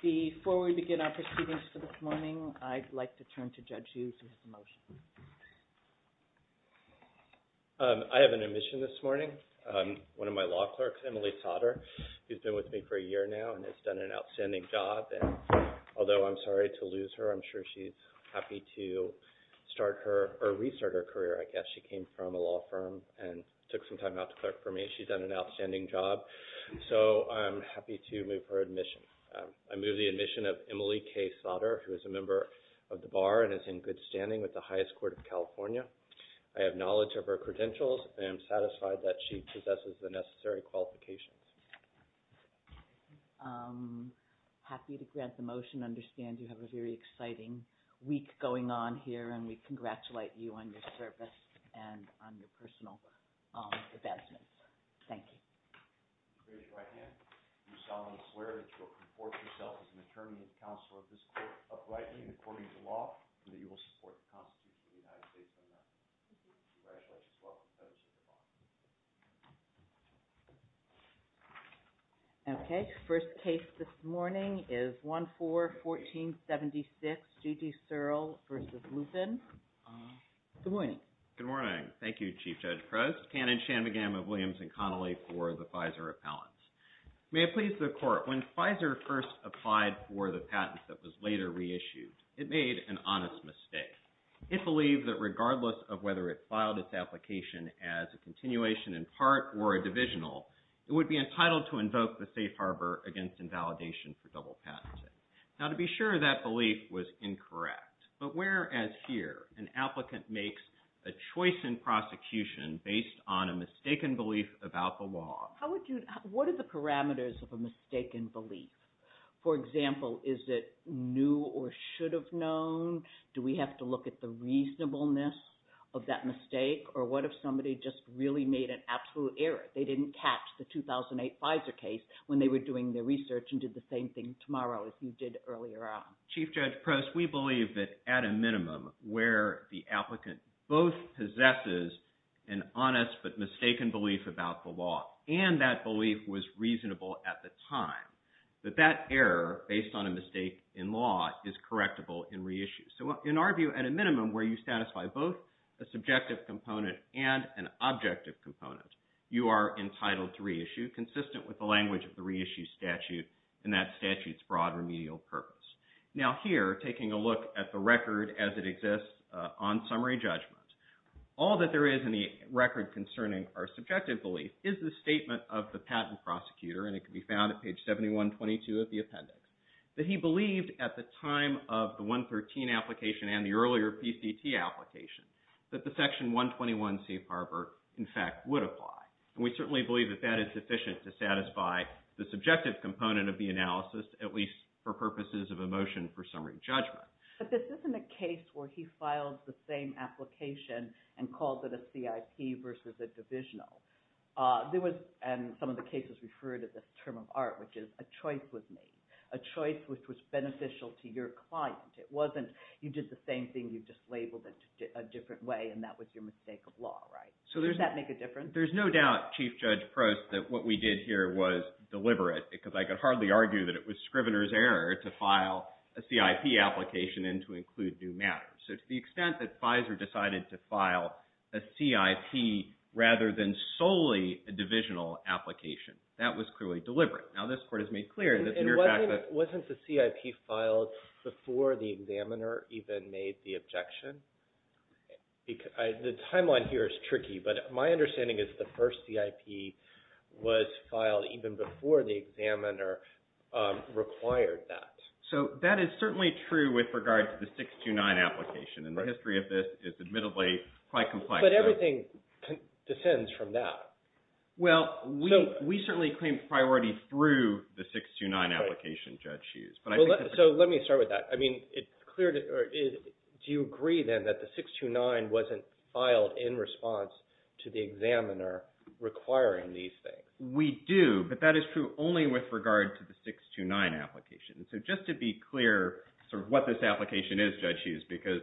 Before we begin our proceedings this morning, I'd like to turn to Judge Hughes for his motion. I have an admission this morning. One of my law clerks, Emily Sautter, who's been with me for a year now and has done an outstanding job. And although I'm sorry to lose her, I'm sure she's happy to start her or restart her career, I guess. She came from a law firm and took some time out to clerk for me. She's done an outstanding job. So I'm happy to move her admission. I move the admission of Emily K. Sautter, who is a member of the Bar and is in good standing with the highest court of California. I have knowledge of her credentials and am satisfied that she possesses the necessary qualifications. I'm happy to grant the motion. I understand you have a very exciting week going on here and we congratulate you on your service and on your personal advancements. Thank you. With your right hand, you solemnly swear that you will conform to yourself as an attorney and counsel of this court, uprightly and according to law, and that you will support the Constitution of the United States of America. Congratulations. You're welcome. Okay. First case this morning is 1-4-1476, Judy Searle v. Lupin. Good morning. Good morning. Thank you, Chief Judge Crouse, Cannon, Shanmugam of Williams & Connolly for the FISA repellents. May it please the Court, when FISA first applied for the patent that was later reissued, it made an honest mistake. It believed that regardless of whether it filed its application as a continuation in part or a divisional, it would be entitled to invoke the safe harbor against invalidation for double patenting. Now, to be sure, that belief was incorrect. But where, as here, an applicant makes a choice in prosecution based on a mistaken belief about the law? What are the parameters of a mistaken belief? For example, is it new or should have known? Do we have to look at the reasonableness of that mistake? Or what if somebody just really made an absolute error? They didn't catch the 2008 FISA case when they were doing their research and did the same thing tomorrow as you did earlier on? Chief Judge Crouse, we believe that, at a minimum, where the applicant both possesses an honest but mistaken belief about the law and that belief was reasonable at the time, that that error, based on a mistake in law, is correctable in reissue. So, in our view, at a minimum, where you satisfy both a subjective component and an objective component, you are entitled to reissue, consistent with the language of the reissue statute, and that statute's broad remedial purpose. Now here, taking a look at the record as it exists on summary judgment, all that there is in the record concerning our subjective belief is the statement of the patent prosecutor, and it can be found at page 7122 of the appendix, that he believed, at the time of the 113 application and the earlier PCT application, that the Section 121 safe harbor, in fact, would apply. And we certainly believe that that is sufficient to satisfy the subjective component of the analysis, at least for purposes of a motion for summary judgment. But this isn't a case where he filed the same application and called it a CIP versus a divisional. There was, and some of the cases referred to this term of art, which is, a choice was made, a choice which was beneficial to your client. It wasn't, you did the same thing, you just labeled it a different way, and that was your mistake of law, right? Does that make a difference? There's no doubt, Chief Judge Prost, that what we did here was deliberate, because I could hardly argue that it was Scrivener's error to file a CIP application and to include new matters. So to the extent that Pfizer decided to file a CIP rather than solely a divisional application, that was clearly deliberate. Now, this Court has made clear that the mere fact that… And wasn't the CIP filed before the examiner even made the objection? The timeline here is tricky, but my understanding is the first CIP was filed even before the examiner required that. So that is certainly true with regard to the 629 application, and the history of this is admittedly quite complex. But everything descends from that. Well, we certainly claim priority through the 629 application, Judge Hughes. So let me start with that. I mean, do you agree, then, that the 629 wasn't filed in response to the examiner requiring these things? We do, but that is true only with regard to the 629 application. So just to be clear sort of what this application is, Judge Hughes, because,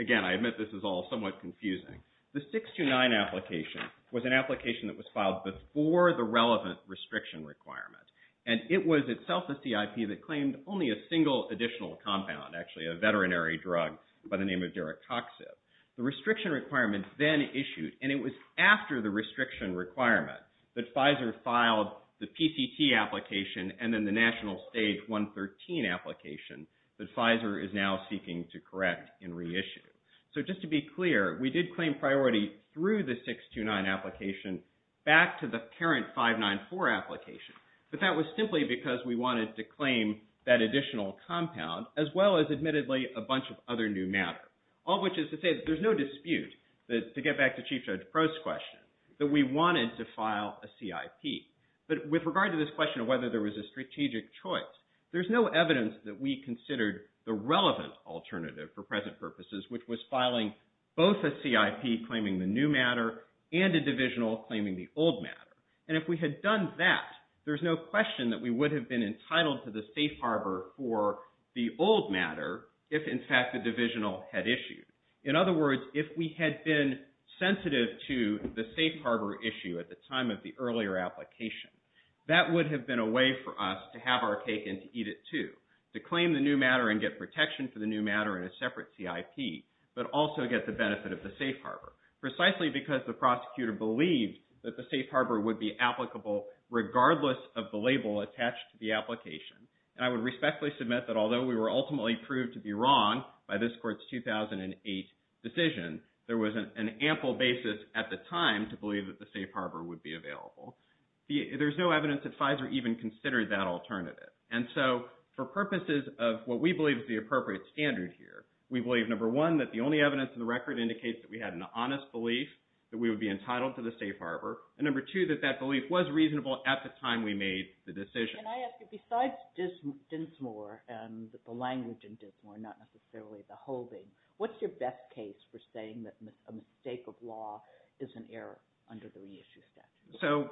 again, I admit this is all somewhat confusing. The 629 application was an application that was filed before the relevant restriction requirement, and it was itself a CIP that claimed only a single additional compound, actually, a veterinary drug by the name of Duracoxib. The restriction requirement then issued, and it was after the restriction requirement that Pfizer filed the PCT application and then the National Stage 113 application that Pfizer is now seeking to correct and reissue. So just to be clear, we did claim priority through the 629 application back to the parent 594 application, but that was simply because we wanted to claim that additional compound as well as, admittedly, a bunch of other new matter, all of which is to say that there's no dispute, to get back to Chief Judge Prost's question, that we wanted to file a CIP. But with regard to this question of whether there was a strategic choice, there's no evidence that we considered the relevant alternative for present purposes, which was filing both a CIP claiming the new matter and a divisional claiming the old matter. And if we had done that, there's no question that we would have been entitled to the safe harbor for the old matter if, in fact, the divisional had issued. In other words, if we had been sensitive to the safe harbor issue at the time of the earlier application, that would have been a way for us to have our cake and to eat it too, to claim the new matter and get protection for the new matter in a separate CIP, but also get the benefit of the safe harbor, precisely because the prosecutor believed that the safe harbor would be applicable regardless of the label attached to the application. And I would respectfully submit that although we were ultimately proved to be wrong by this court's 2008 decision, there was an ample basis at the time to believe that the safe harbor would be available. There's no evidence that FISA even considered that alternative. And so for purposes of what we believe is the appropriate standard here, we believe, number one, that the only evidence in the record indicates that we had an honest belief that we would be entitled to the safe harbor, and number two, that that belief was reasonable at the time we made the decision. Can I ask you, besides Dinsmore and the language in Dinsmore, not necessarily the holding, what's your best case for saying that a mistake of law is an error under the reissue statute? So,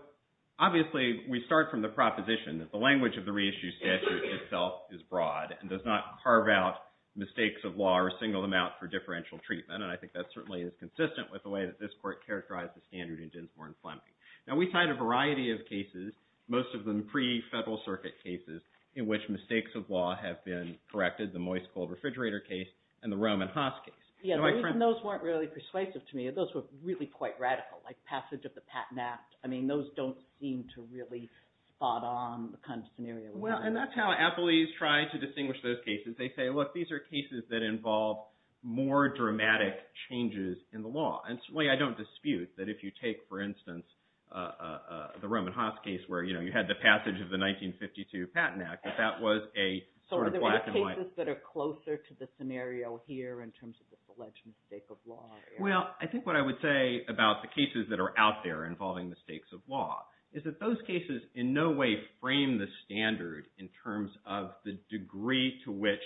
obviously, we start from the proposition that the language of the reissue statute itself is broad and does not carve out mistakes of law or single them out for differential treatment, and I think that certainly is consistent with the way that this court characterized the standard in Dinsmore and Fleming. Now, we cite a variety of cases, most of them pre-Federal Circuit cases, in which mistakes of law have been corrected, the Moist Cold Refrigerator case and the Roman Haas case. Yeah, those weren't really persuasive to me. Those were really quite radical, like passage of the Patent Act. I mean, those don't seem to really spot on the kind of scenario we're in. Well, and that's how appellees try to distinguish those cases. They say, look, these are cases that involve more dramatic changes in the law. And, certainly, I don't dispute that if you take, for instance, the Roman Haas case where, you know, you had the passage of the 1952 Patent Act, that that was a sort of black and white. So, are there cases that are closer to the scenario here in terms of the alleged mistake of law? Well, I think what I would say about the cases that are out there involving mistakes of law is that those cases in no way frame the standard in terms of the degree to which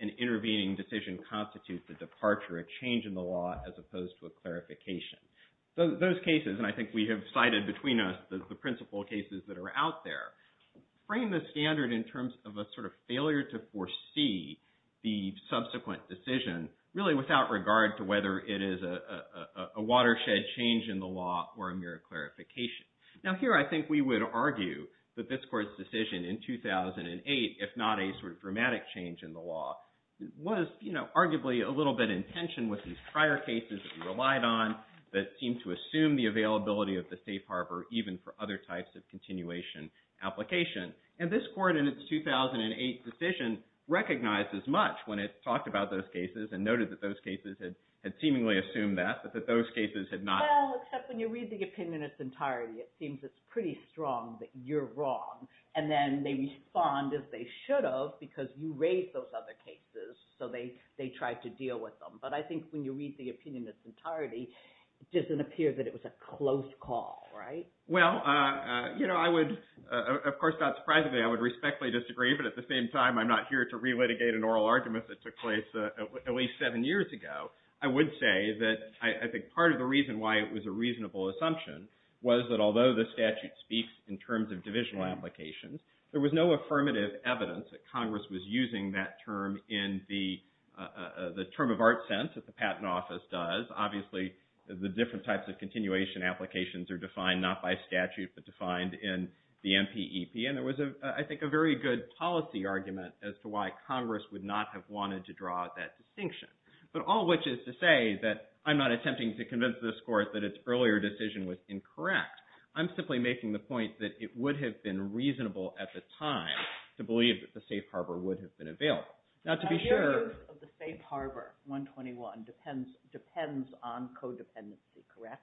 an intervening decision constitutes the departure, a change in the law, as opposed to a clarification. Those cases, and I think we have cited between us the principal cases that are out there, frame the standard in terms of a sort of failure to foresee the subsequent decision, really without regard to whether it is a watershed change in the law or a mere clarification. Now, here I think we would argue that this Court's decision in 2008, if not a sort of dramatic change in the law, was, you know, arguably a little bit in tension with these prior cases that we relied on that seemed to assume the availability of the safe harbor even for other types of continuation application. And this Court, in its 2008 decision, recognized as much when it talked about those cases and noted that those cases had seemingly assumed that, but that those cases had not. Well, except when you read the opinion in its entirety, it seems it's pretty strong that you're wrong, and then they respond as they should have because you raised those other cases, so they tried to deal with them. But I think when you read the opinion in its entirety, it doesn't appear that it was a close call, right? Well, you know, I would, of course not surprisingly, I would respectfully disagree, but at the same time I'm not here to relitigate an oral argument that took place at least seven years ago. I would say that I think part of the reason why it was a reasonable assumption was that although the statute speaks in terms of divisional applications, there was no affirmative evidence that Congress was using that term in the term of art sense that the Patent Office does. Obviously the different types of continuation applications are defined not by statute but defined in the NPEP, and there was, I think, a very good policy argument as to why Congress would not have wanted to draw that distinction. But all of which is to say that I'm not attempting to convince this Court that its earlier decision was incorrect. I'm simply making the point that it would have been reasonable at the time to believe that the safe harbor would have been available. Now to be sure – The use of the safe harbor, 121, depends on codependency, correct?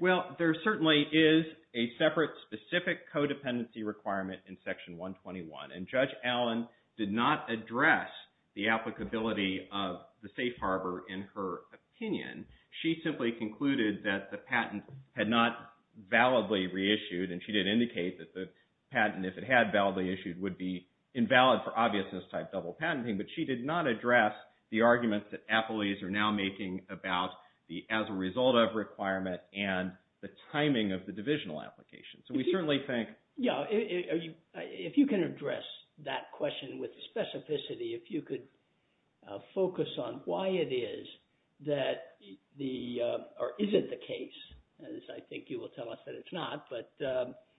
Well, there certainly is a separate specific codependency requirement in Section 121, and Judge Allen did not address the applicability of the safe harbor in her opinion. She simply concluded that the patent had not validly reissued, and she did indicate that the patent, if it had validly issued, would be invalid for obviousness type double patenting. But she did not address the argument that appellees are now making about the as a result of requirement and the timing of the divisional application. So we certainly think – with specificity, if you could focus on why it is that the – or is it the case, as I think you will tell us that it's not, but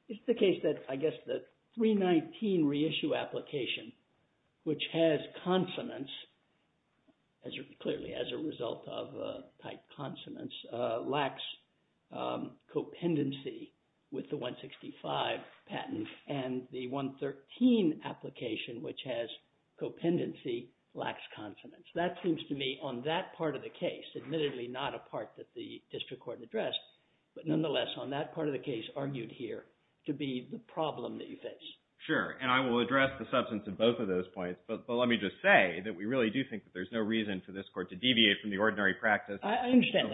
it's the case that I guess the 319 reissue application, which has consonants, clearly as a result of type consonants, lacks copendency with the 165 patent, and the 113 application, which has copendency, lacks consonants. That seems to me on that part of the case, admittedly not a part that the district court addressed, but nonetheless on that part of the case argued here to be the problem that you face. Sure, and I will address the substance of both of those points, but let me just say that we really do think that there's no reason for this court to deviate from the ordinary practice of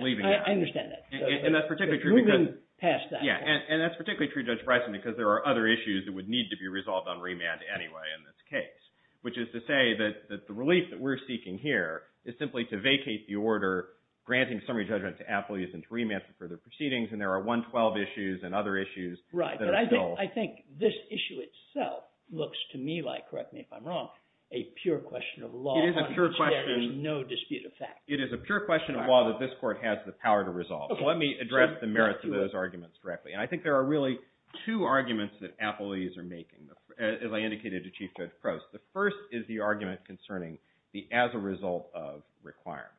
leaving it. I understand that. And that's particularly true because – Moving past that. Yeah, and that's particularly true, Judge Bryson, because there are other issues that would need to be resolved on remand anyway in this case, which is to say that the relief that we're seeking here is simply to vacate the order granting summary judgment to appellees and to remand for further proceedings, and there are 112 issues and other issues that are still – Right, but I think this issue itself looks to me like, correct me if I'm wrong, a pure question of law. It is a pure question. No dispute of fact. It is a pure question of law that this court has the power to resolve. Let me address the merits of those arguments directly, and I think there are really two arguments that appellees are making, as I indicated to Chief Judge Crouse. The first is the argument concerning the as a result of requirement,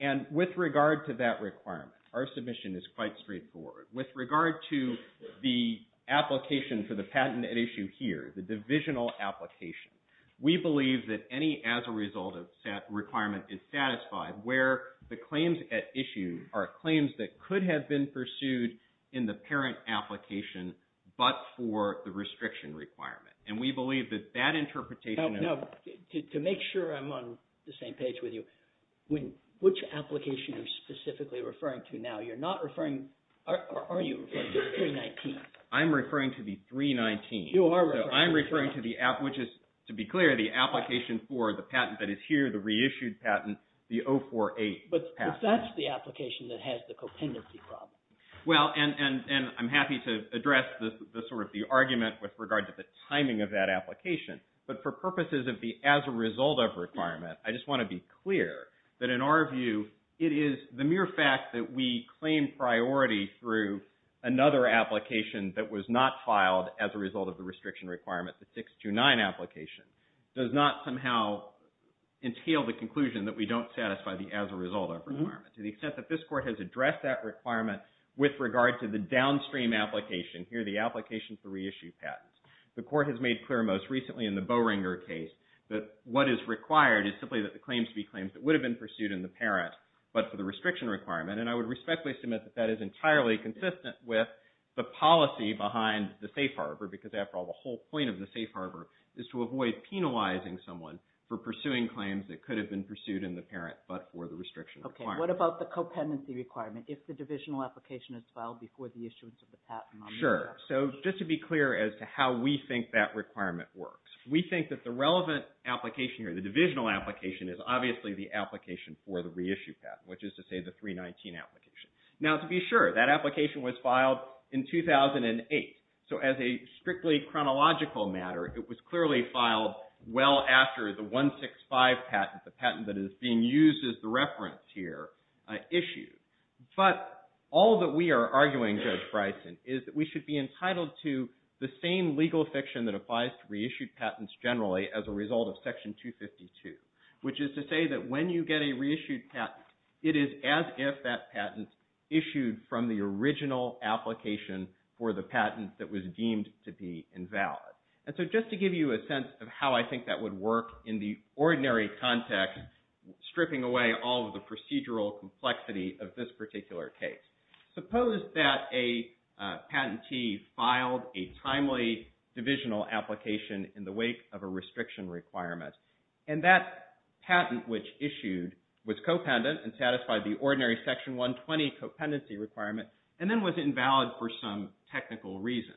and with regard to that requirement, our submission is quite straightforward. With regard to the application for the patent at issue here, the divisional application, we believe that any as a result of requirement is satisfied where the claims at issue are claims that could have been pursued in the parent application, but for the restriction requirement. And we believe that that interpretation of – Now, to make sure I'm on the same page with you, which application are you specifically referring to now? You're not referring – are you referring to 319? I'm referring to the 319. You are referring – So I'm referring to the – which is, to be clear, the application for the patent that is here, the reissued patent, the 048 patent. But that's the application that has the compendency problem. Well, and I'm happy to address sort of the argument with regard to the timing of that application, but for purposes of the as a result of requirement, I just want to be clear that in our view, it is the mere fact that we claim priority through another application that was not filed as a result of the restriction requirement, the 629 application, does not somehow entail the conclusion that we don't satisfy the as a result of requirement. To the extent that this Court has addressed that requirement with regard to the downstream application, here the application for reissued patents, the Court has made clear most recently in the Boehringer case that what is required is simply that the claims be claims that would have been pursued in the parent, but for the restriction requirement. And I would respectfully submit that that is entirely consistent with the policy behind the safe harbor because, after all, the whole point of the safe harbor is to avoid penalizing someone for pursuing claims that could have been pursued in the parent, but for the restriction requirement. Okay. What about the compendency requirement? If the divisional application is filed before the issuance of the patent? Sure. So just to be clear as to how we think that requirement works, we think that the relevant application here, the divisional application, is obviously the application for the reissued patent, which is to say the 319 application. Now, to be sure, that application was filed in 2008. So as a strictly chronological matter, it was clearly filed well after the 165 patent, the patent that is being used as the reference here, issued. But all that we are arguing, Judge Bryson, is that we should be entitled to the same legal fiction that applies to reissued patents generally as a result of Section 252, which is to say that when you get a reissued patent, it is as if that patent issued from the original application for the patent that was deemed to be invalid. And so just to give you a sense of how I think that would work in the ordinary context, stripping away all of the procedural complexity of this particular case, suppose that a patentee filed a timely divisional application in the wake of a restriction requirement, and that patent which issued was co-pendent and satisfied the ordinary Section 120 co-pendency requirement and then was invalid for some technical reason.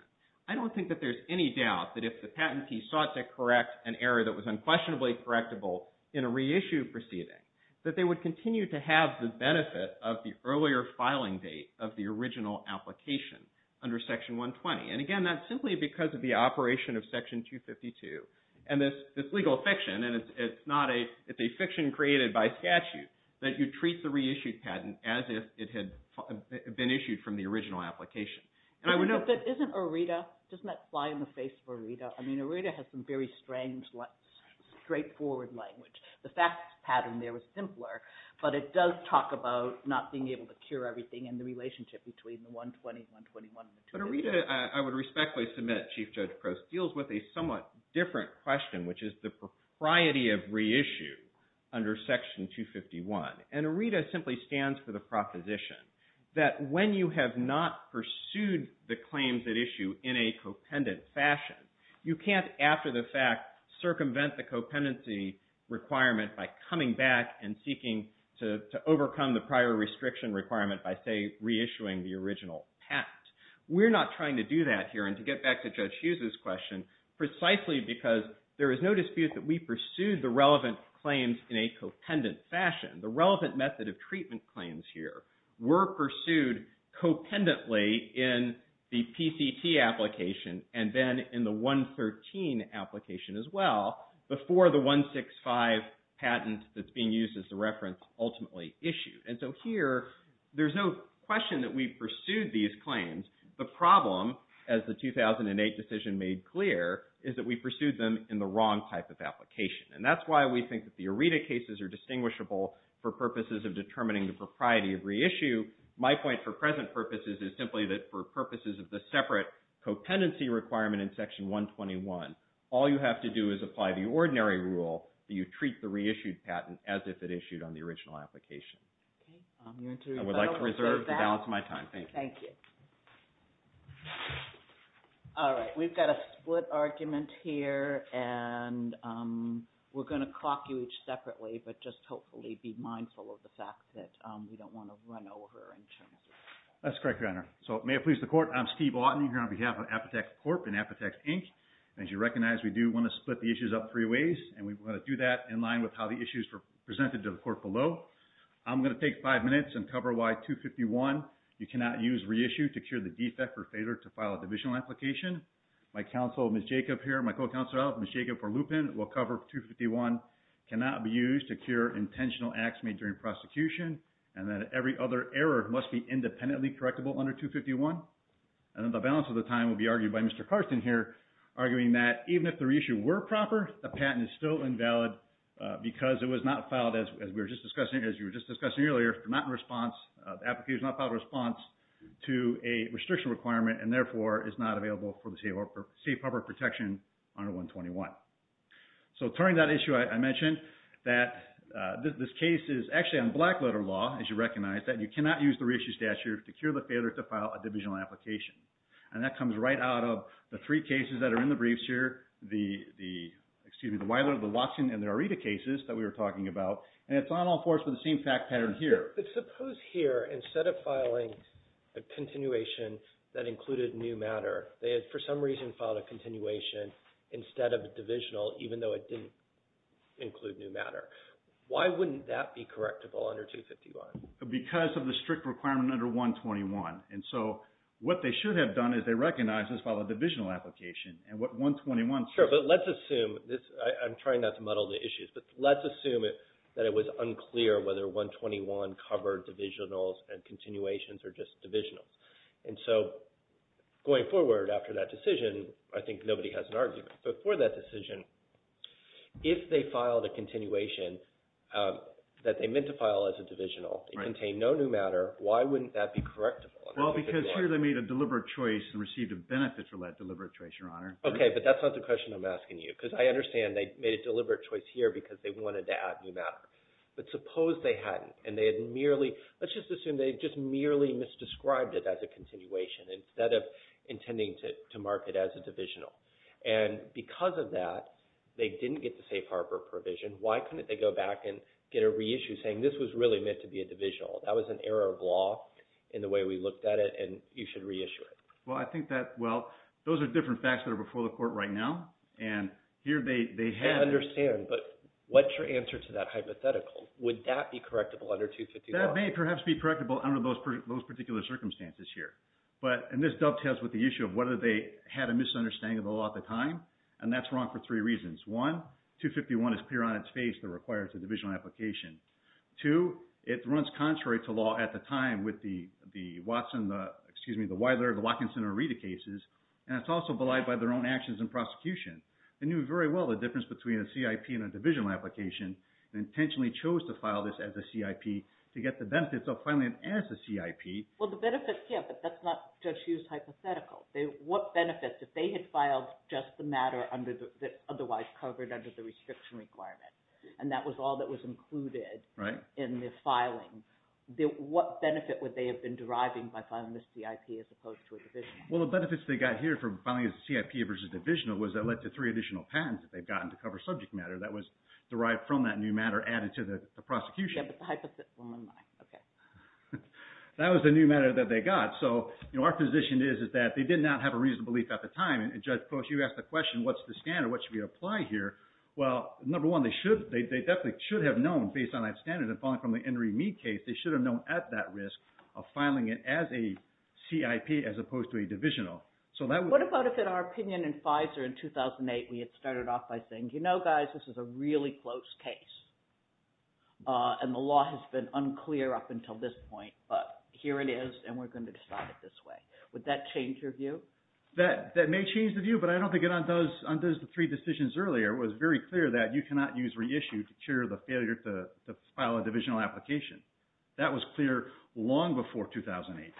I don't think that there is any doubt that if the patentee sought to correct an error that was unquestionably correctable in a reissued proceeding, that they would continue to have the benefit of the earlier filing date of the original application under Section 120. And again, that's simply because of the operation of Section 252 and this legal fiction. And it's not a – it's a fiction created by statute that you treat the reissued patent as if it had been issued from the original application. And I would note – But if it isn't ERETA, doesn't that fly in the face of ERETA? I mean, ERETA has some very strange, straightforward language. The fact pattern there was simpler, but it does talk about not being able to cure everything and the relationship between the 120, 121, and the 250. But ERETA, I would respectfully submit, Chief Judge Crouse, deals with a somewhat different question, which is the propriety of reissue under Section 251. And ERETA simply stands for the proposition that when you have not pursued the claims at issue in a co-pendent fashion, you can't, after the fact, circumvent the co-pendency requirement by coming back and seeking to overcome the prior restriction requirement by, say, reissuing the original patent. We're not trying to do that here. And to get back to Judge Hughes' question, precisely because there is no dispute that we pursued the relevant claims in a co-pendent fashion, the relevant method of treatment claims here were pursued co-pendently in the PCT application and then in the 113 application as well, before the 165 patent that's being used as the reference ultimately issued. And so here, there's no question that we pursued these claims. The problem, as the 2008 decision made clear, is that we pursued them in the wrong type of application. And that's why we think that the ERETA cases are distinguishable for purposes of determining the propriety of reissue. My point for present purposes is simply that for purposes of the separate co-pendency requirement in Section 121, all you have to do is apply the ordinary rule that you treat the reissued patent as if it issued on the original application. I would like to reserve the balance of my time. Thank you. Thank you. All right, we've got a split argument here, and we're going to clock you each separately, but just hopefully be mindful of the fact that we don't want to run over. That's correct, Your Honor. So may it please the Court, I'm Steve Lawton here on behalf of Apotec Corp. and Apotec Inc. As you recognize, we do want to split the issues up three ways, and we want to do that in line with how the issues were presented to the Court below. I'm going to take five minutes and cover why 251, you cannot use reissue to cure the defect or failure to file a divisional application. My counsel, Ms. Jacob here, my co-counsel, Ms. Jacob for Lupin, will cover 251, cannot be used to cure intentional acts made during prosecution, and that every other error must be independently correctable under 251. And the balance of the time will be argued by Mr. Carson here, arguing that even if the reissue were proper, the patent is still invalid because it was not filed, as we were just discussing, as you were just discussing earlier, not in response, the application was not filed in response to a restriction requirement and therefore is not available for safe public protection under 121. So turning that issue, I mentioned that this case is actually on black letter law, as you recognize, that you cannot use the reissue statute to cure the failure to file a divisional application. And that comes right out of the three cases that are in the briefs here, the Weiler, the Watson, and the Areta cases that we were talking about, and it's not all forced with the same fact pattern here. But suppose here, instead of filing a continuation that included new matter, they had for some reason filed a continuation instead of a divisional, even though it didn't include new matter. Why wouldn't that be correctable under 251? Because of the strict requirement under 121. And so what they should have done is they recognized this filed a divisional application, and what 121 says... Sure, but let's assume this, I'm trying not to muddle the issues, but let's assume that it was unclear whether 121 covered divisionals and continuations or just divisionals. And so going forward after that decision, I think nobody has an argument. But for that decision, if they filed a continuation that they meant to file as a divisional and contained no new matter, why wouldn't that be correctable? Well, because here they made a deliberate choice and received a benefit from that deliberate choice, Your Honor. Okay, but that's not the question I'm asking you, because I understand they made a deliberate choice here because they wanted to add new matter. But suppose they hadn't, and they had merely... instead of intending to mark it as a divisional. And because of that, they didn't get the safe harbor provision. Why couldn't they go back and get a reissue saying this was really meant to be a divisional? That was an error of law in the way we looked at it, and you should reissue it. Well, I think that... Well, those are different facts that are before the Court right now. And here they had... I understand, but what's your answer to that hypothetical? Would that be correctable under 251? Well, it may perhaps be correctable under those particular circumstances here. And this dovetails with the issue of whether they had a misunderstanding of the law at the time, and that's wrong for three reasons. One, 251 is clear on its face that it requires a divisional application. Two, it runs contrary to law at the time with the Watson... excuse me, the Weiler, the Watkinson, or Rita cases, and it's also belied by their own actions in prosecution. They knew very well the difference between a CIP and a divisional application and intentionally chose to file this as a CIP to get the benefits of filing it as a CIP. Well, the benefits, yeah, but that's not just used hypothetical. What benefits, if they had filed just the matter that's otherwise covered under the restriction requirement, and that was all that was included in the filing, what benefit would they have been deriving by filing this CIP as opposed to a divisional? Well, the benefits they got here from filing it as a CIP versus divisional was that it led to three additional patents that they've gotten to cover subject matter that was derived from that new matter added to the prosecution. Yeah, but the hypothetical, my, okay. That was the new matter that they got. So, you know, our position is that they did not have a reason to believe at the time, and Judge Post, you asked the question, what's the standard? What should we apply here? Well, number one, they definitely should have known based on that standard and following from the Henry Mead case, they should have known at that risk of filing it as a CIP as opposed to a divisional. What about if in our opinion in Pfizer in 2008 we had started off by saying, you know, guys, this is a really close case, and the law has been unclear up until this point, but here it is and we're going to decide it this way. Would that change your view? That may change the view, but I don't think it undoes the three decisions earlier. It was very clear that you cannot use reissue to cure the failure to file a divisional application. That was clear long before 2008.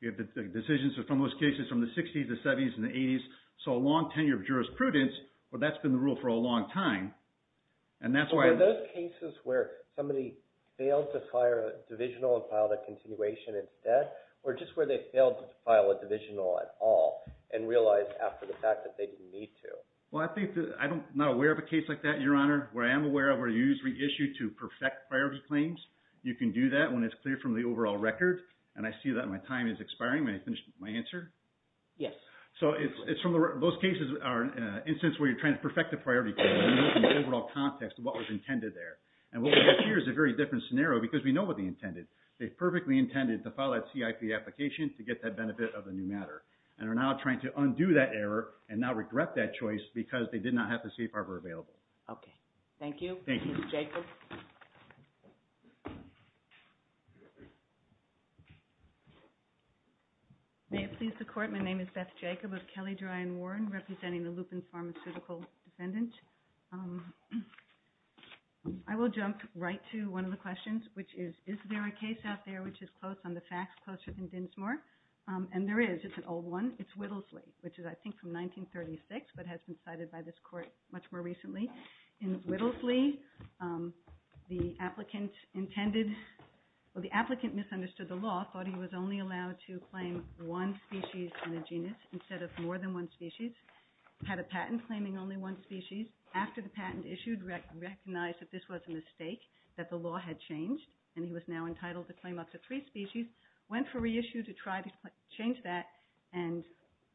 You have the decisions from those cases from the 60s, the 70s, and the 80s, so a long tenure of jurisprudence, but that's been the rule for a long time, and that's why. Were those cases where somebody failed to file a divisional and filed a continuation instead or just where they failed to file a divisional at all and realized after the fact that they didn't need to? Well, I think I'm not aware of a case like that, Your Honor, where I am aware of where you use reissue to perfect priority claims. You can do that when it's clear from the overall record, and I see that my time is expiring. May I finish my answer? Yes. So those cases are instances where you're trying to perfect a priority claim in the overall context of what was intended there, and what we have here is a very different scenario because we know what they intended. They perfectly intended to file that CIP application to get that benefit of the new matter and are now trying to undo that error and now regret that choice because they did not have the safe harbor available. Okay. Thank you. Thank you. Ms. Jacobs. May it please the Court? My name is Beth Jacobs of Kelly Dry and Warren, representing the Lupins Pharmaceutical Defendant. I will jump right to one of the questions, which is, is there a case out there which is close on the facts, closer than Dinsmore? And there is. It's an old one. It's Whittlesley, which is, I think, from 1936, but has been cited by this Court much more recently. In Whittlesley, the applicant misunderstood the law, thought he was only allowed to claim one species in the genus instead of more than one species, had a patent claiming only one species. After the patent issued, recognized that this was a mistake, that the law had changed, and he was now entitled to claim up to three species, went for reissue to try to change that, and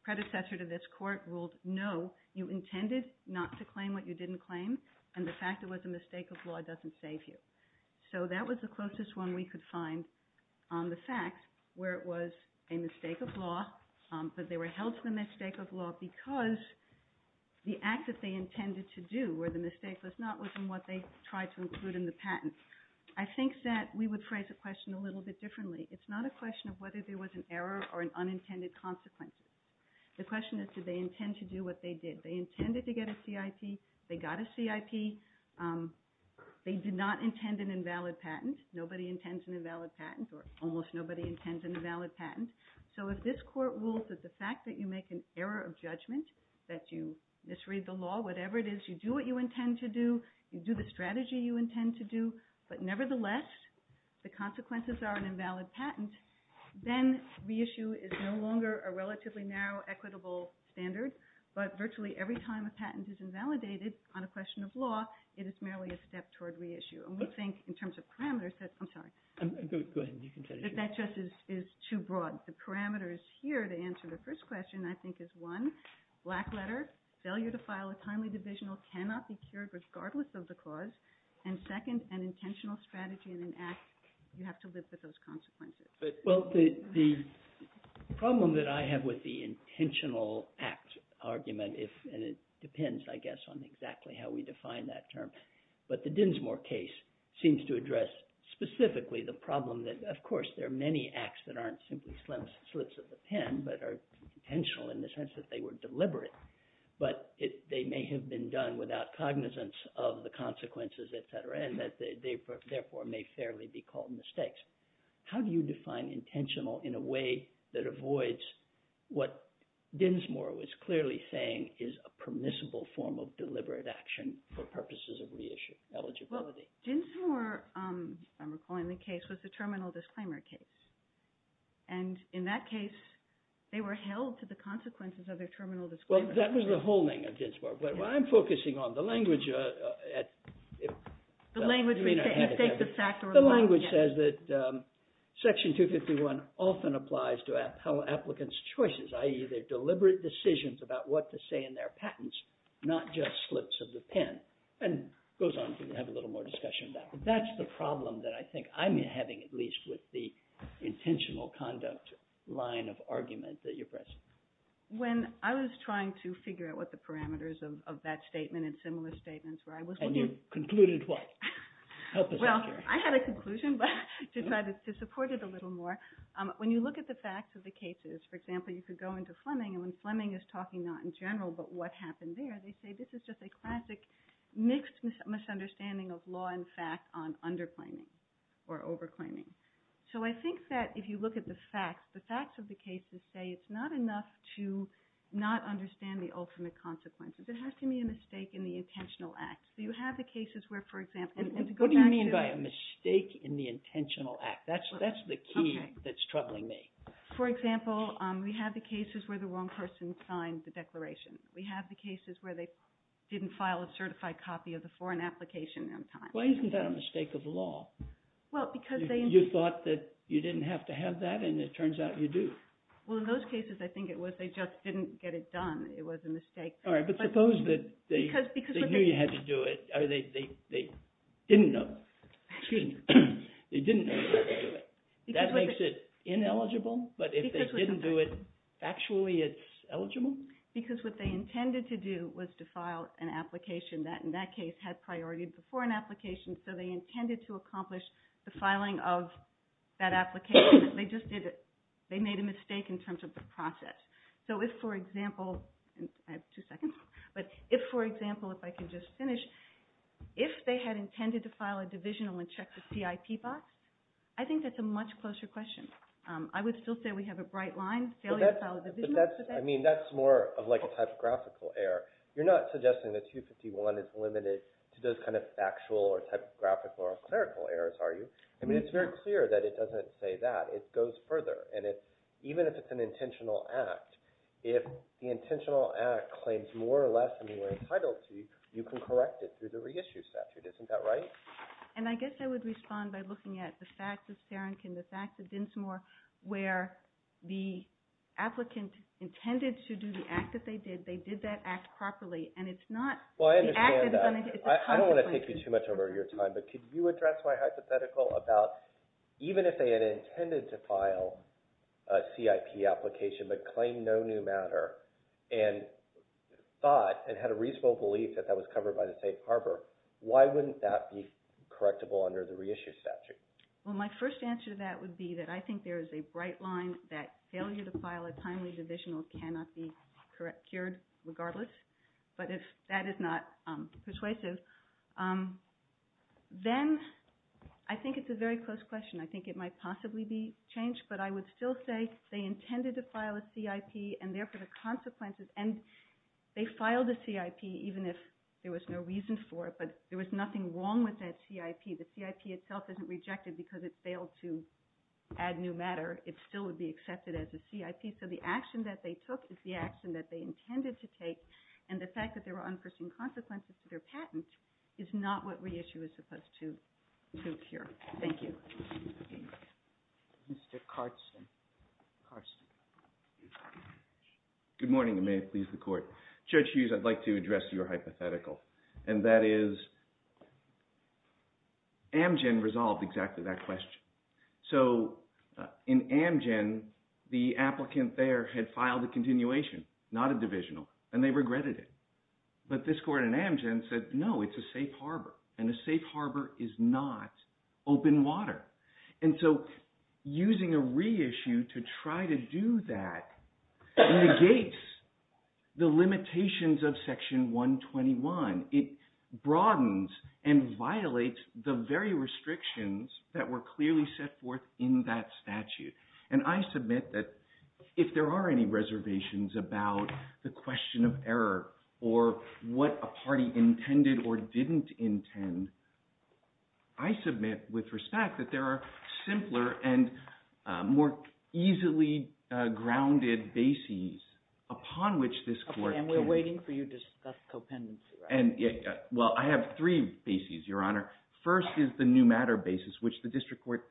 predecessor to this Court ruled, no, you intended not to claim what you didn't claim, and the fact it was a mistake of law doesn't save you. So that was the closest one we could find on the facts, where it was a mistake of law, but they were held to the mistake of law because the act that they intended to do, where the mistake was not within what they tried to include in the patent. I think that we would phrase the question a little bit differently. It's not a question of whether there was an error or an unintended consequence. The question is, did they intend to do what they did? They intended to get a CIP. They got a CIP. They did not intend an invalid patent. Nobody intends an invalid patent, or almost nobody intends an invalid patent. So if this Court rules that the fact that you make an error of judgment, that you misread the law, whatever it is, you do what you intend to do, you do the strategy you intend to do, but nevertheless the consequences are an invalid patent, then reissue is no longer a relatively narrow equitable standard, but virtually every time a patent is invalidated on a question of law, it is merely a step toward reissue. And we think in terms of parameters that – I'm sorry. Go ahead. You can finish. That that just is too broad. The parameters here to answer the first question I think is, one, black letter, failure to file a timely divisional cannot be cured regardless of the cause, and second, an intentional strategy in an act, you have to live with those consequences. Well, the problem that I have with the intentional act argument, and it depends, I guess, on exactly how we define that term, but the Dinsmore case seems to address specifically the problem that, of course, there are many acts that aren't simply slips of the pen, but are intentional in the sense that they were deliberate, but they may have been done without cognizance of the consequences, et cetera, and that they therefore may fairly be called mistakes. How do you define intentional in a way that avoids what Dinsmore was clearly saying is a permissible form of deliberate action for purposes of reissue eligibility? Well, Dinsmore, if I'm recalling the case, was the terminal disclaimer case. And in that case, they were held to the consequences of their terminal disclaimer. Well, that was the whole thing of Dinsmore. But what I'm focusing on, the language at – The language, mistakes of factor of one. The language says that Section 251 often applies to applicants' choices, i.e., their deliberate decisions about what to say in their patents, not just slips of the pen, and goes on to have a little more discussion about it. That's the problem that I think I'm having at least with the intentional conduct line of argument that you're pressing. When I was trying to figure out what the parameters of that statement and similar statements were, I was looking at – And you concluded what? Well, I had a conclusion, but I decided to support it a little more. When you look at the facts of the cases, for example, you could go into Fleming, and when Fleming is talking not in general but what happened there, they say this is just a classic mixed misunderstanding of law and fact on underclaiming or overclaiming. So I think that if you look at the facts, the facts of the cases say it's not enough to not understand the ultimate consequences. There has to be a mistake in the intentional act. So you have the cases where, for example – What do you mean by a mistake in the intentional act? That's the key that's troubling me. For example, we have the cases where the wrong person signed the declaration. We have the cases where they didn't file a certified copy of the foreign application on time. Why isn't that a mistake of law? Well, because they – You thought that you didn't have to have that, and it turns out you do. Well, in those cases, I think it was they just didn't get it done. It was a mistake. All right, but suppose that they knew you had to do it, or they didn't know. Excuse me. They didn't know you had to do it. That makes it ineligible, but if they didn't do it, actually it's eligible? Because what they intended to do was to file an application that, in that case, had priority before an application. So they intended to accomplish the filing of that application, but they just did it. They made a mistake in terms of the process. So if, for example – I have two seconds. But if, for example, if I can just finish, if they had intended to file a divisional and check the CIP box, I think that's a much closer question. I would still say we have a bright line, failure to file a divisional. But that's – I mean, that's more of like a typographical error. You're not suggesting that 251 is limited to those kind of factual or typographical or clerical errors, are you? I mean, it's very clear that it doesn't say that. It goes further. And even if it's an intentional act, if the intentional act claims more or less than you are entitled to, you can correct it through the reissue statute. Isn't that right? And I guess I would respond by looking at the facts of Serenkin, the facts of Dinsmore, where the applicant intended to do the act that they did. They did that act properly. And it's not – Well, I understand that. I don't want to take you too much over your time. But could you address my hypothetical about even if they had intended to file a CIP application but claimed no new matter and thought and had a reasonable belief that that was covered by the State Harbor, why wouldn't that be correctable under the reissue statute? Well, my first answer to that would be that I think there is a bright line that failure to file a timely divisional cannot be cured regardless. But if that is not persuasive, then I think it's a very close question. I think it might possibly be changed, but I would still say they intended to file a CIP and therefore the consequences – and they filed a CIP even if there was no reason for it, but there was nothing wrong with that CIP. The CIP itself isn't rejected because it failed to add new matter. It still would be accepted as a CIP. So the action that they took is the action that they intended to take, and the fact that there were unforeseen consequences to their patents is not what reissue is supposed to cure. Thank you. Mr. Carsten. Good morning, and may it please the Court. Judge Hughes, I'd like to address your hypothetical, and that is Amgen resolved exactly that question. So in Amgen, the applicant there had filed a continuation, not a divisional, and they regretted it. But this court in Amgen said, no, it's a safe harbor, and a safe harbor is not open water. And so using a reissue to try to do that negates the limitations of Section 121. It broadens and violates the very restrictions that were clearly set forth in that statute. And I submit that if there are any reservations about the question of error or what a party intended or didn't intend, I submit with respect that there are simpler and more easily grounded bases upon which this court can – Well, I have three bases, Your Honor. First is the new matter basis, which the district court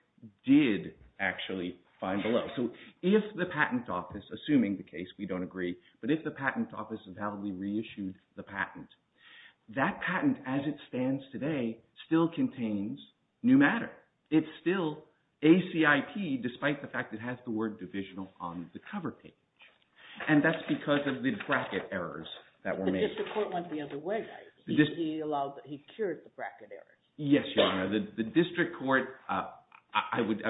did actually find below. So if the patent office, assuming the case we don't agree, but if the patent office validly reissued the patent, that patent as it stands today still contains new matter. It's still ACIP despite the fact it has the word divisional on the cover page, and that's because of the bracket errors that were made. The district court went the other way. He cured the bracket errors. Yes, Your Honor. The district court – I would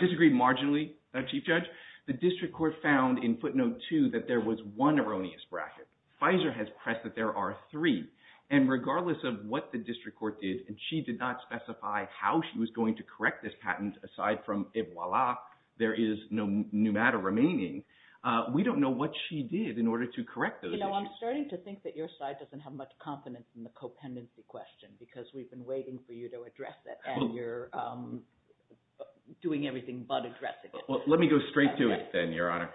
disagree marginally, Chief Judge. The district court found in footnote two that there was one erroneous bracket. Pfizer has pressed that there are three. And regardless of what the district court did, and she did not specify how she was going to correct this patent aside from, there is no new matter remaining, we don't know what she did in order to correct those issues. I'm starting to think that your side doesn't have much confidence in the co-pendency question because we've been waiting for you to address it, and you're doing everything but addressing it. Let me go straight to it then, Your Honor.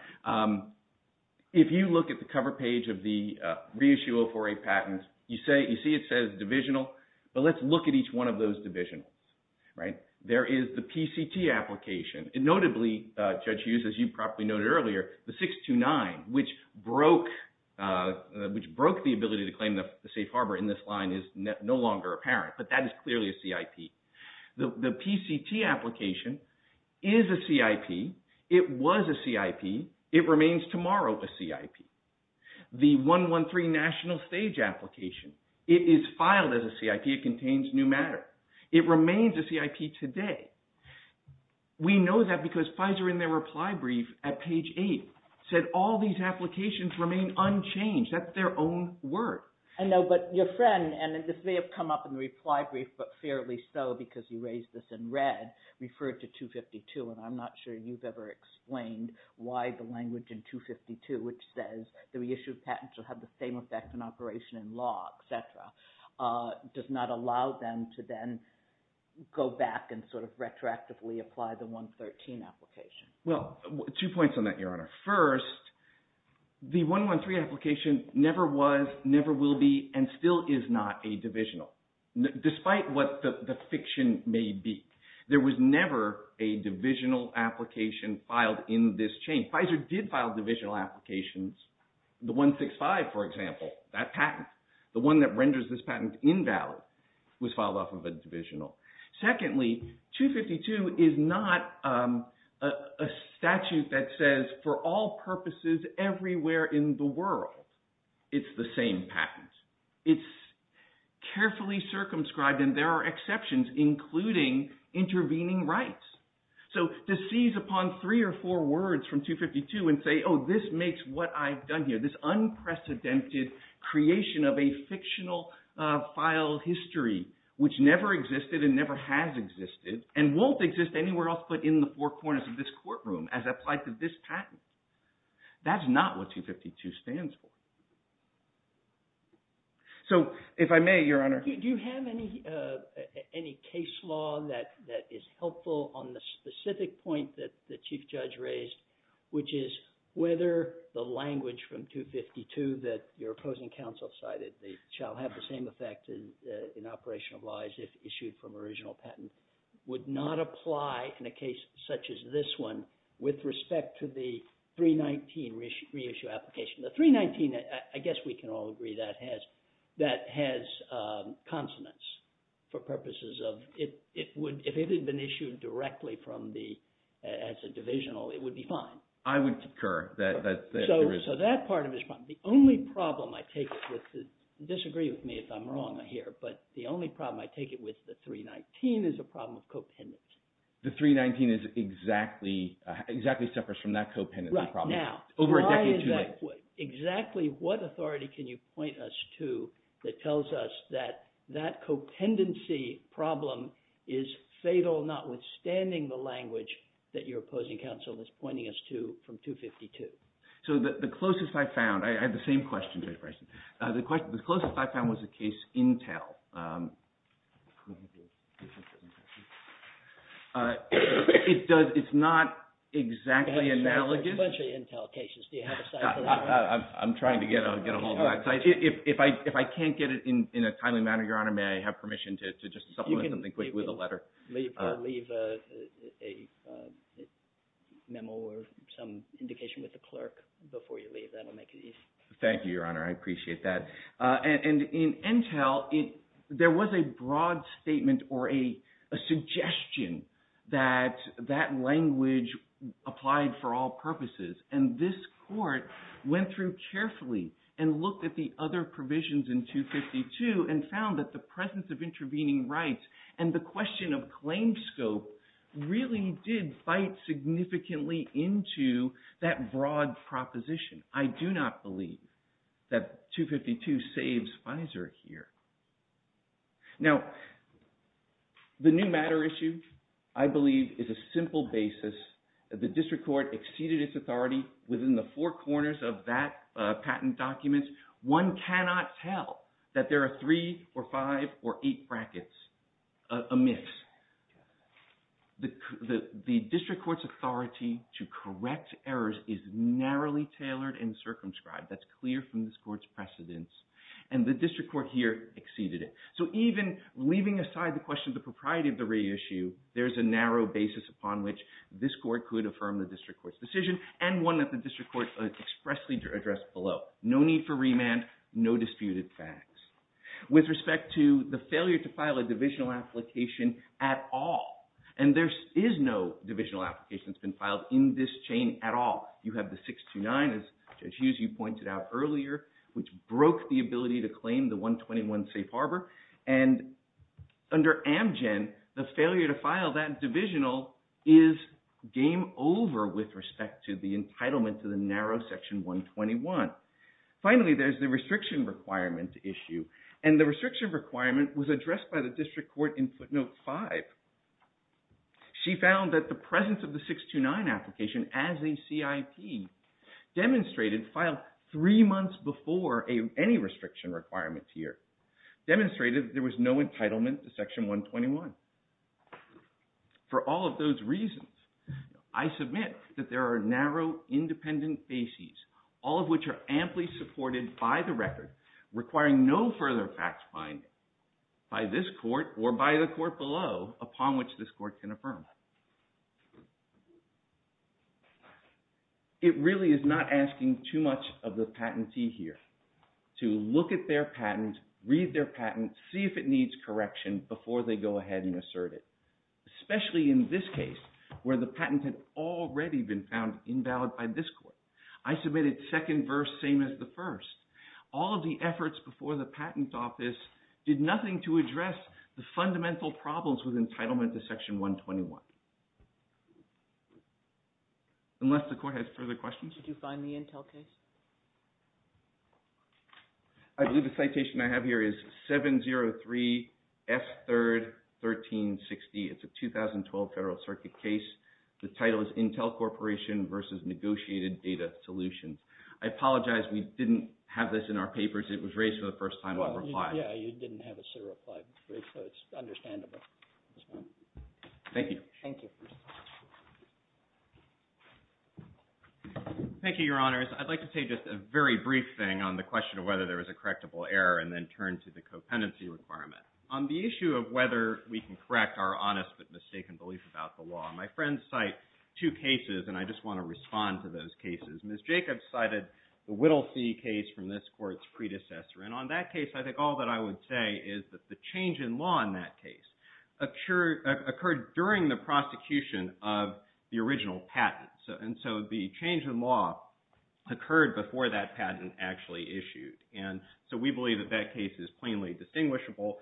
If you look at the cover page of the reissue of a patent, you see it says divisional, but let's look at each one of those divisionals. There is the PCT application. Notably, Judge Hughes, as you probably noted earlier, the 629, which broke the ability to claim the safe harbor in this line is no longer apparent, but that is clearly a CIP. The PCT application is a CIP. It was a CIP. It remains tomorrow a CIP. The 113 national stage application, it is filed as a CIP. It contains new matter. It remains a CIP today. We know that because Pfizer, in their reply brief at page 8, said all these applications remain unchanged. That's their own word. I know, but your friend, and this may have come up in the reply brief, but fairly so because you raised this in red, referred to 252, and I'm not sure you've ever explained why the language in 252, which says the reissue of patents will have the same effect on operation in law, et cetera, does not allow them to then go back and sort of retroactively apply the 113 application. Well, two points on that, Your Honor. First, the 113 application never was, never will be, and still is not a divisional. Despite what the fiction may be, there was never a divisional application filed in this chain. Pfizer did file divisional applications. The 165, for example, that patent, the one that renders this patent invalid was filed off of a divisional. Secondly, 252 is not a statute that says for all purposes everywhere in the world it's the same patent. It's carefully circumscribed, and there are exceptions, including intervening rights. So to seize upon three or four words from 252 and say, oh, this makes what I've done here, this unprecedented creation of a fictional file history, which never existed and never has existed, and won't exist anywhere else but in the four corners of this courtroom as applied to this patent, that's not what 252 stands for. So if I may, Your Honor. Do you have any case law that is helpful on the specific point that the Chief Judge raised, which is whether the language from 252 that your opposing counsel cited, they shall have the same effect in operational lies if issued from original patent, would not apply in a case such as this one with respect to the 319 reissue application? The 319, I guess we can all agree that has consonants for purposes of if it had been issued directly as a divisional, it would be fine. I would concur that there is. So that part of it is fine. The only problem I take it with, disagree with me if I'm wrong here, but the only problem I take it with the 319 is a problem of copennants. The 319 is exactly separate from that copennant problem. Right now. Over a decade too late. Why is that? Exactly what authority can you point us to that tells us that that copennancy problem is fatal, notwithstanding the language that your opposing counsel is pointing us to from 252? So the closest I found, I had the same question, Judge Bryson. The closest I found was the case Intel. It's not exactly analogous. There's a bunch of Intel cases. Do you have a site for that? I'm trying to get a hold of that site. If I can't get it in a timely manner, Your Honor, may I have permission to just supplement something quick with a letter? You can leave a memo or some indication with the clerk before you leave. That will make it easier. Thank you, Your Honor. I appreciate that. And in Intel, there was a broad statement or a suggestion that that language applied for all purposes. And this court went through carefully and looked at the other provisions in 252 and found that the presence of intervening rights and the question of claim scope really did bite significantly into that broad proposition. I do not believe that 252 saves FISA here. Now, the new matter issue, I believe, is a simple basis. The district court exceeded its authority within the four corners of that patent document. One cannot tell that there are three or five or eight brackets amiss. The district court's authority to correct errors is narrowly tailored and circumscribed. That's clear from this court's precedence. And the district court here exceeded it. So even leaving aside the question of the propriety of the reissue, there's a narrow basis upon which this court could affirm the district court's decision and one that the district court expressly addressed below. No need for remand. No disputed facts. With respect to the failure to file a divisional application at all. And there is no divisional application that's been filed in this chain at all. You have the 629, as Judge Hughes, you pointed out earlier, which broke the ability to claim the 121 Safe Harbor. And under Amgen, the failure to file that divisional is game over with respect to the entitlement to the narrow Section 121. Finally, there's the restriction requirement issue. And the restriction requirement was addressed by the district court in footnote 5. She found that the presence of the 629 application as a CIP demonstrated filed three months before any restriction requirements here. Demonstrated there was no entitlement to Section 121. For all of those reasons, I submit that there are narrow independent bases, all of which are amply supported by the record, requiring no further facts finding by this court or by the court below upon which this court can affirm. It really is not asking too much of the patentee here to look at their patent, read their patent, see if it needs correction before they go ahead and assert it. Especially in this case, where the patent had already been found invalid by this court. I submitted second verse, same as the first. All of the efforts before the patent office did nothing to address the fundamental problems with entitlement to Section 121. Unless the court has further questions? Did you find the Intel case? I believe the citation I have here is 703F31360. It's a 2012 Federal Circuit case. The title is Intel Corporation versus Negotiated Data Solutions. I apologize, we didn't have this in our papers. It was raised for the first time when I replied. Yeah, you didn't have it, so it's understandable. Thank you. Thank you. Thank you, Your Honors. I'd like to say just a very brief thing on the question of whether there was a correctable error, and then turn to the co-penalty requirement. On the issue of whether we can correct our honest but mistaken belief about the law, my friends cite two cases, and I just want to respond to those cases. Ms. Jacobs cited the Whittle fee case from this court's predecessor. And on that case, I think all that I would say is that the change in law in that case occurred during the prosecution of the original patent. And so the change in law occurred before that patent actually issued. And so we believe that that case is plainly distinguishable.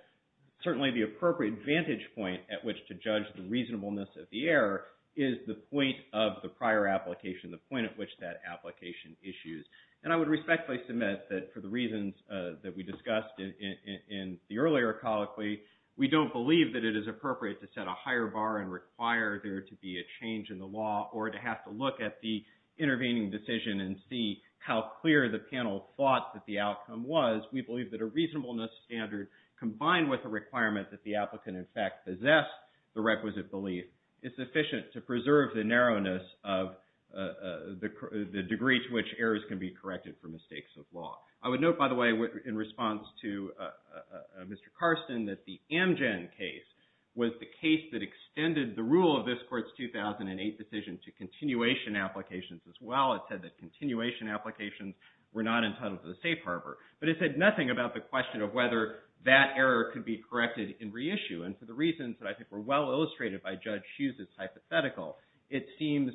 Certainly the appropriate vantage point at which to judge the reasonableness of the error is the point of the prior application, the point at which that application issues. And I would respectfully submit that for the reasons that we discussed in the earlier colloquy, we don't believe that it is appropriate to set a higher bar and require there to be a change in the law or to have to look at the intervening decision and see how clear the panel thought that the outcome was. We believe that a reasonableness standard combined with a requirement that the applicant in fact possess the requisite belief is sufficient to preserve the narrowness of the degree to which errors can be corrected for mistakes of law. I would note, by the way, in response to Mr. Carson, that the Amgen case was the case that extended the rule of this court's 2008 decision to continuation applications as well. It said that continuation applications were not entitled to the safe harbor. But it said nothing about the question of whether that error could be corrected in reissue. And for the reasons that I think were well illustrated by Judge Hughes' hypothetical, it seems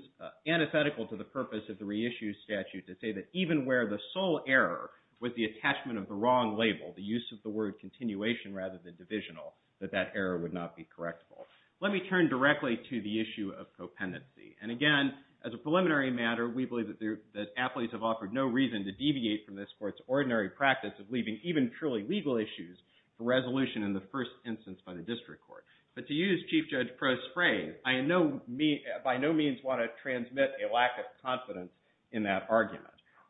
antithetical to the purpose of the reissue statute to say that even where the sole error was the attachment of the wrong label, the use of the word continuation rather than divisional, that that error would not be correctable. Let me turn directly to the issue of co-pendency. And again, as a preliminary matter, we believe that athletes have offered no reason to deviate from this court's ordinary practice of leaving even truly legal issues for resolution in the first instance by the district court. But to use Chief Judge Pro's phrase, I by no means want to transmit a lack of confidence in that argument.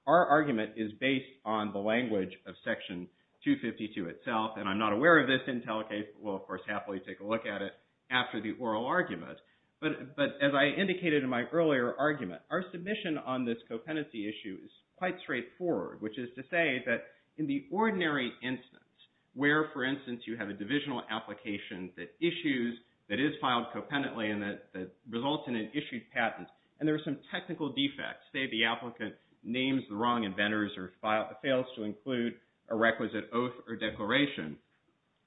Our argument is based on the language of Section 252 itself. And I'm not aware of this Intel case. We'll, of course, happily take a look at it after the oral argument. But as I indicated in my earlier argument, our submission on this co-pendency issue is quite straightforward, which is to say that in the ordinary instance where, for instance, you have a divisional application that issues, that is filed co-pendently and that results in an issued patent, and there are some technical defects, say the applicant names the wrong inventors or fails to include a requisite oath or declaration,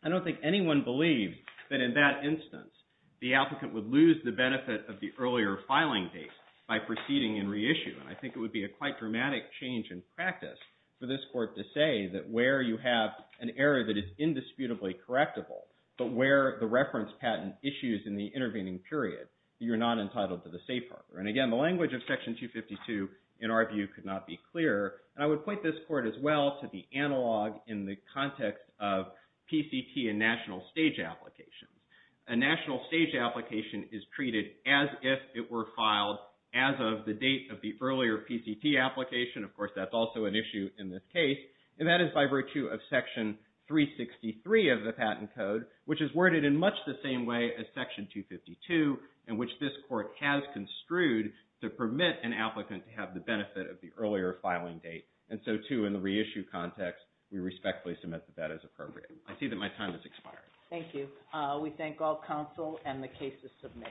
I don't think anyone believes that in that instance the applicant would lose the benefit of the earlier filing date by proceeding and reissuing. I think it would be a quite dramatic change in practice for this court to say that where you have an error that is indisputably correctable, but where the reference patent issues in the intervening period, you're not entitled to the safe harbor. And again, the language of Section 252, in our view, could not be clearer. And I would point this court as well to the analog in the context of PCT and national stage applications. A national stage application is treated as if it were filed as of the date of the earlier PCT application. Of course, that's also an issue in this case. And that is by virtue of Section 363 of the Patent Code, which is worded in much the same way as Section 252, in which this court has construed to permit an applicant to have the benefit of the earlier filing date. And so, too, in the reissue context, we respectfully submit that as appropriate. I see that my time has expired. Thank you. We thank all counsel and the cases submitted.